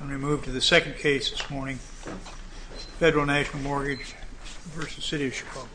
I'm going to move to the second case this morning, Federal National Mortgage v. City of Chicago.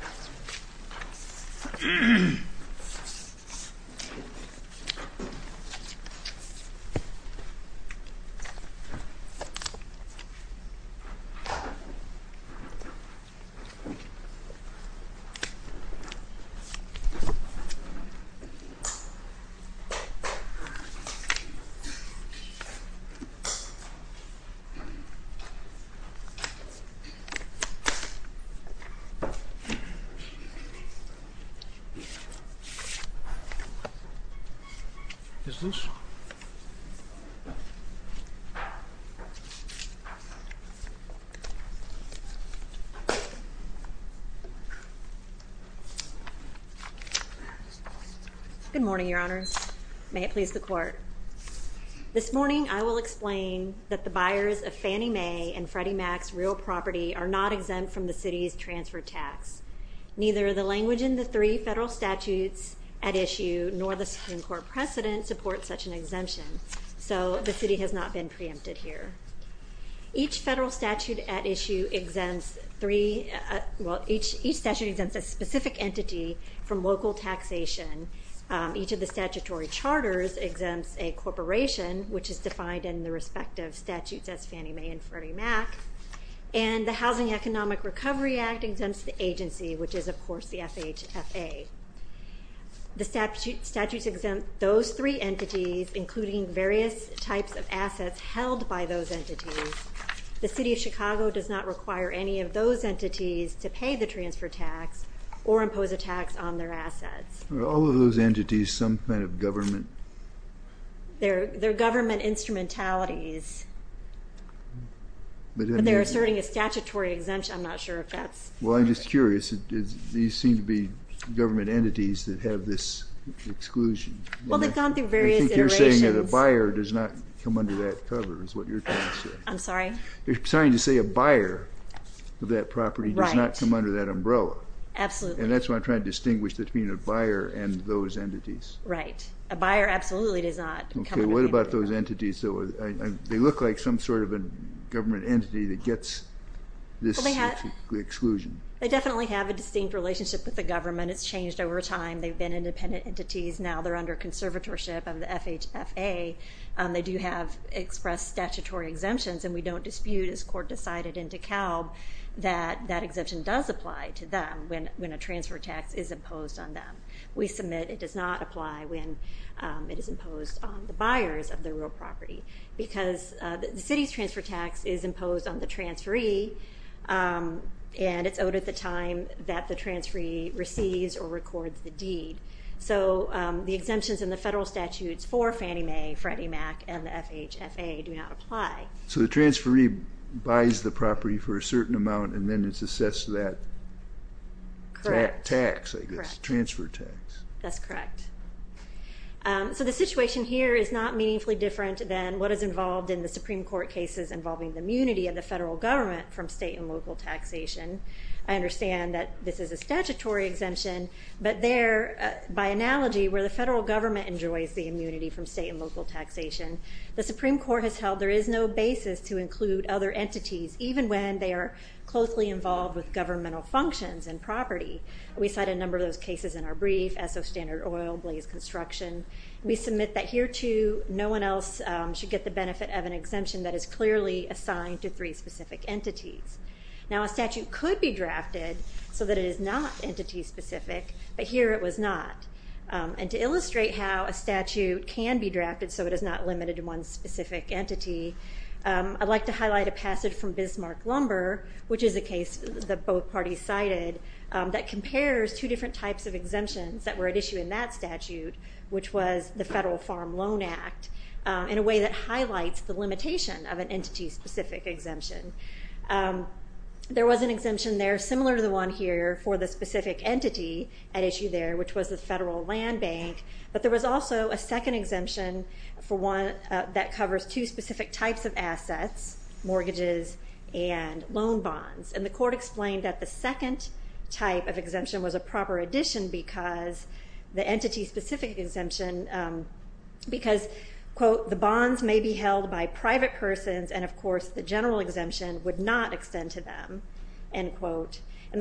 Good morning, Your Honors. May it please the Court. This morning I will explain that the buyers of Fannie Mae and Freddie Mac's real property are not exempt from the City's transfer tax. Neither the language in the three federal statutes at issue nor the Supreme Court precedent supports such an exemption. So the City has not been preempted here. Each federal statute at issue exempts three, well each statute exempts a specific entity from local taxation. Each of the statutory charters exempts a corporation, which is defined in the respective statutes as Fannie Mae and Freddie Mac. And the Housing Economic Recovery Act exempts the agency, which is of course the FHFA. The statutes exempt those three entities, including various types of assets held by those entities. The City of Chicago does not require any of those entities to pay the transfer tax or impose a tax on their assets. Are all of those entities some kind of government? They're government instrumentalities, but they're asserting a statutory exemption. I'm not sure if that's... Well, I'm just curious. These seem to be government entities that have this exclusion. Well, they've gone through various iterations. I think you're saying that a buyer does not come under that cover is what you're trying to say. I'm sorry? You're trying to say a buyer of that property does not come under that umbrella. Absolutely. And that's what I'm trying to distinguish between a buyer and those entities. Right. A buyer absolutely does not come under that umbrella. Okay. What about those entities? They look like some sort of a government entity that gets this exclusion. They definitely have a distinct relationship with the government. It's changed over time. They've been independent entities. Now they're under conservatorship of the FHFA. They do have expressed statutory exemptions, and we don't dispute, as court decided in DeKalb, that that exemption does apply to them when a transfer tax is imposed on them. We submit it does not apply when it is imposed on the buyers of the real property because the city's transfer tax is imposed on the transferee, and it's owed at the time that the transferee receives or records the deed. So the exemptions in the federal statutes for Fannie Mae, Freddie Mac, and the FHFA do not apply. So the transferee buys the property for a certain amount, and then it's assessed to that tax, I guess, transfer tax. That's correct. So the situation here is not meaningfully different than what is involved in the Supreme Court cases involving the immunity of the federal government from state and local taxation. I understand that this is a statutory exemption, but there, by analogy, where the federal government enjoys the immunity from state and local taxation, the Supreme Court has held there is no basis to include other entities, even when they are closely involved with governmental functions and property. We cite a number of those cases in our brief, Esso Standard Oil, Blaze Construction. We submit that here, too, no one else should get the benefit of an exemption that is clearly assigned to three specific entities. Now, a statute could be drafted so that it is not entity-specific, but here it was not. And to illustrate how a statute can be drafted so it is not limited to one specific entity, I'd like to highlight a passage from Bismarck Lumber, which is a case that both parties cited, that compares two different types of exemptions that were at issue in that statute, which was the Federal Farm Loan Act, in a way that highlights the limitation of an entity-specific exemption. There was an exemption there similar to the one here for the specific entity at issue there, which was the Federal Land Bank, but there was also a second exemption that covers two specific types of assets, mortgages and loan bonds. And the court explained that the second type of exemption was a proper addition because the entity-specific exemption, because, quote, the bonds may be held by private persons and, of course, And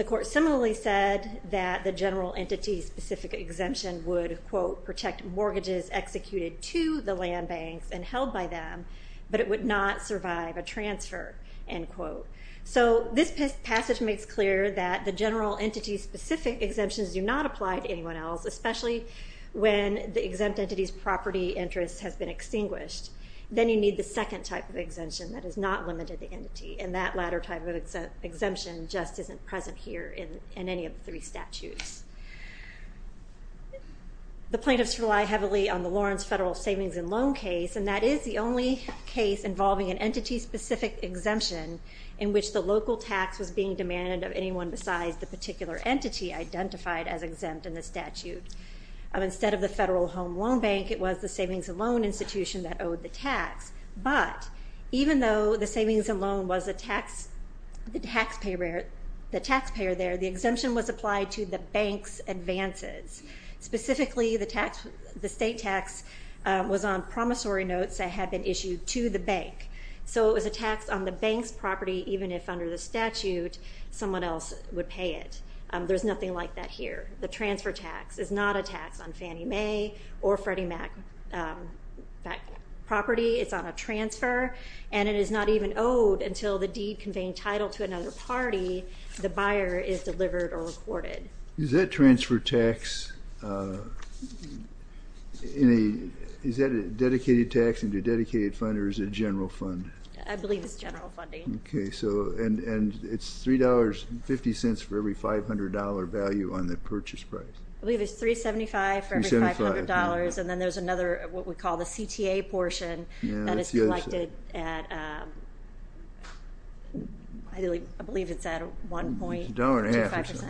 the court similarly said that the general entity-specific exemption would, quote, protect mortgages executed to the land banks and held by them, but it would not survive a transfer, end quote. So this passage makes clear that the general entity-specific exemptions do not apply to anyone else, especially when the exempt entity's property interest has been extinguished. Then you need the second type of exemption that is not limited to the entity, and that latter type of exemption just isn't present here in any of the three statutes. The plaintiffs rely heavily on the Lawrence Federal Savings and Loan case, and that is the only case involving an entity-specific exemption in which the local tax was being demanded of anyone besides the particular entity identified as exempt in the statute. Instead of the Federal Home Loan Bank, it was the Savings and Loan Institution that owed the tax, but even though the savings and loan was the taxpayer there, the exemption was applied to the bank's advances. Specifically, the state tax was on promissory notes that had been issued to the bank. So it was a tax on the bank's property, even if under the statute someone else would pay it. There's nothing like that here. The transfer tax is not a tax on Fannie Mae or Freddie Mac property. It's on a transfer, and it is not even owed until the deed conveying title to another party, the buyer, is delivered or recorded. Is that transfer tax in a dedicated tax, in a dedicated fund, or is it a general fund? I believe it's general funding. Okay. And it's $3.50 for every $500 value on the purchase price? I believe it's $3.75 for every $500. And then there's another, what we call the CTA portion, that is collected at, I believe it's at 1.25%. A dollar and a half or so.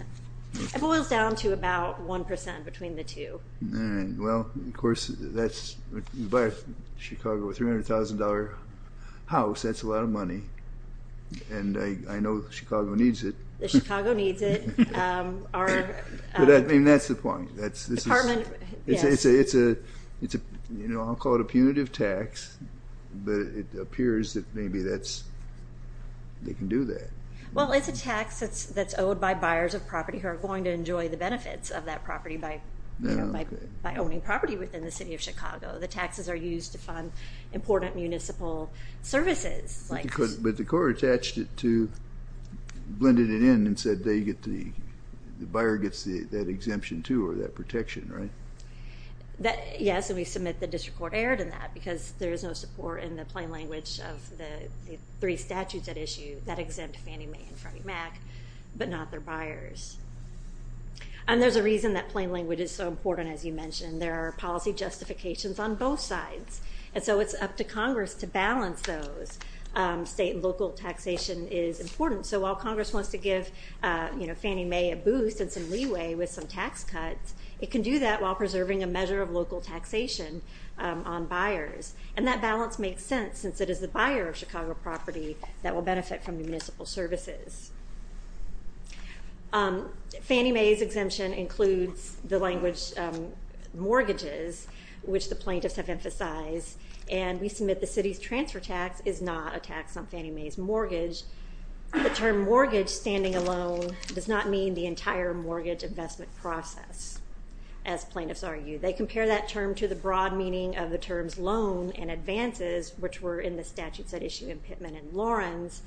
It boils down to about 1% between the two. All right. Well, of course, you buy a Chicago $300,000 house, that's a lot of money, and I know Chicago needs it. Chicago needs it. I mean, that's the point. It's a, you know, I'll call it a punitive tax, but it appears that maybe that's, they can do that. Well, it's a tax that's owed by buyers of property who are going to enjoy the benefits of that property by owning property within the City of Chicago. The taxes are used to fund important municipal services. But the court attached it to, blended it in and said they get the, the buyer gets that exemption, too, or that protection, right? Yes, and we submit that district court erred in that because there is no support in the plain language of the three statutes at issue that exempt Fannie Mae and Freddie Mac, but not their buyers. And there's a reason that plain language is so important, as you mentioned. There are policy justifications on both sides. And so it's up to Congress to balance those. State and local taxation is important. So while Congress wants to give, you know, Fannie Mae a boost and some leeway with some tax cuts, it can do that while preserving a measure of local taxation on buyers. And that balance makes sense since it is the buyer of Chicago property that will benefit from the municipal services. Fannie Mae's exemption includes the language mortgages, which the plaintiffs have emphasized, and we submit the City's transfer tax is not a tax on Fannie Mae's mortgage. The term mortgage standing alone does not mean the entire mortgage investment process, as plaintiffs argue. They compare that term to the broad meaning of the terms loan and advances, which were in the statutes at issue in Pittman and Lawrence.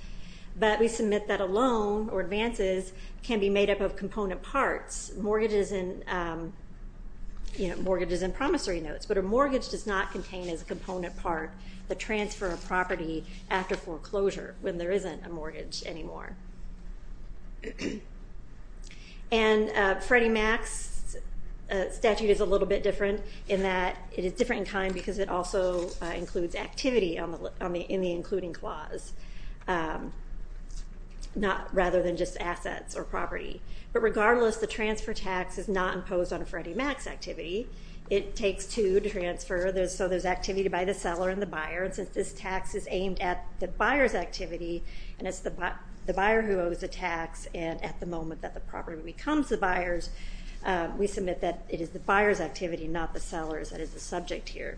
But we submit that a loan or advances can be made up of component parts, mortgages and promissory notes. But a mortgage does not contain as a component part the transfer of property after foreclosure when there isn't a mortgage anymore. And Freddie Mac's statute is a little bit different in that it is different in kind because it also includes activity in the including clause, rather than just assets or property. But regardless, the transfer tax is not imposed on a Freddie Mac's activity. It takes two to transfer, so there's activity by the seller and the buyer, and since this tax is aimed at the buyer's activity, and it's the buyer who owes the tax, and at the moment that the property becomes the buyer's, we submit that it is the buyer's activity, not the seller's. That is the subject here.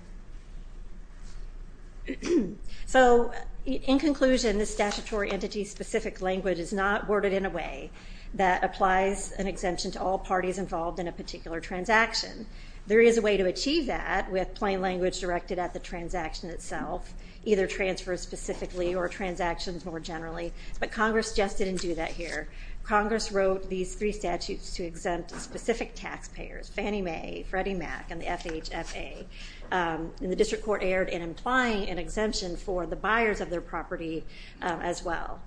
So in conclusion, this statutory entity-specific language is not worded in a way that applies an exemption to all parties involved in a particular transaction. There is a way to achieve that with plain language directed at the transaction itself, either transfers specifically or transactions more generally, but Congress just didn't do that here. Congress wrote these three statutes to exempt specific taxpayers, Fannie Mae, Freddie Mac, and the FHFA, and the district court erred in implying an exemption for the buyers of their property as well.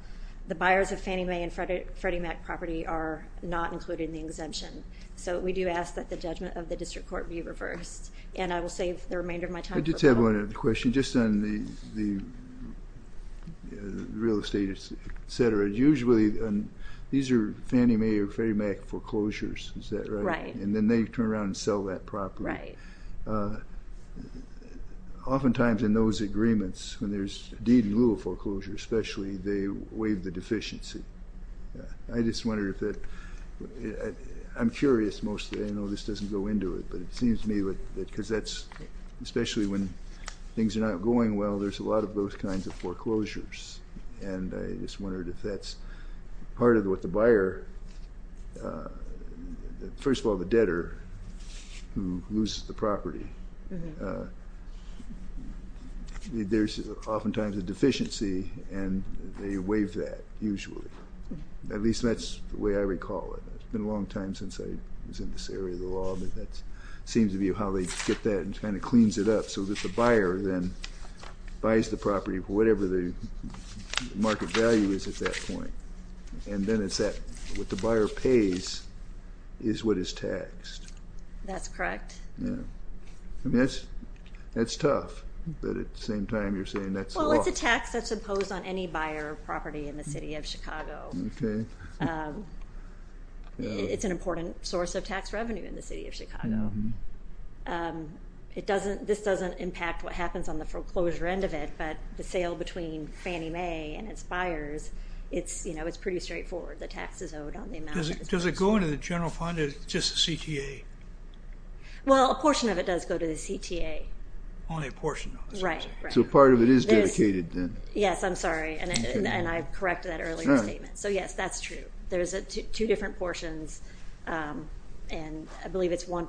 The buyers of Fannie Mae and Freddie Mac property are not included in the exemption. So we do ask that the judgment of the district court be reversed, and I will save the remainder of my time. I just have one other question, just on the real estate, et cetera. Usually these are Fannie Mae or Freddie Mac foreclosures, is that right? Right. And then they turn around and sell that property. Right. Oftentimes in those agreements, when there's deed in lieu of foreclosure, especially, they waive the deficiency. I'm curious mostly, I know this doesn't go into it, but it seems to me that especially when things are not going well, there's a lot of those kinds of foreclosures, and I just wondered if that's part of what the buyer, first of all, the debtor who loses the property, there's oftentimes a deficiency and they waive that usually. At least that's the way I recall it. It's been a long time since I was in this area of the law, but that seems to be how they get that and kind of cleans it up, so that the buyer then buys the property for whatever the market value is at that point, and then what the buyer pays is what is taxed. That's correct. Yeah. Well, it's a tax that's imposed on any buyer property in the city of Chicago. Okay. It's an important source of tax revenue in the city of Chicago. This doesn't impact what happens on the foreclosure end of it, but the sale between Fannie Mae and its buyers, it's pretty straightforward. The tax is owed on the amount that it's being sold. Does it go into the general fund or just the CTA? Well, a portion of it does go to the CTA. Only a portion of it. Right, right. So a part of it is dedicated then. Yes, I'm sorry, and I corrected that earlier statement. So, yes, that's true. There's two different portions, and I believe it's one point.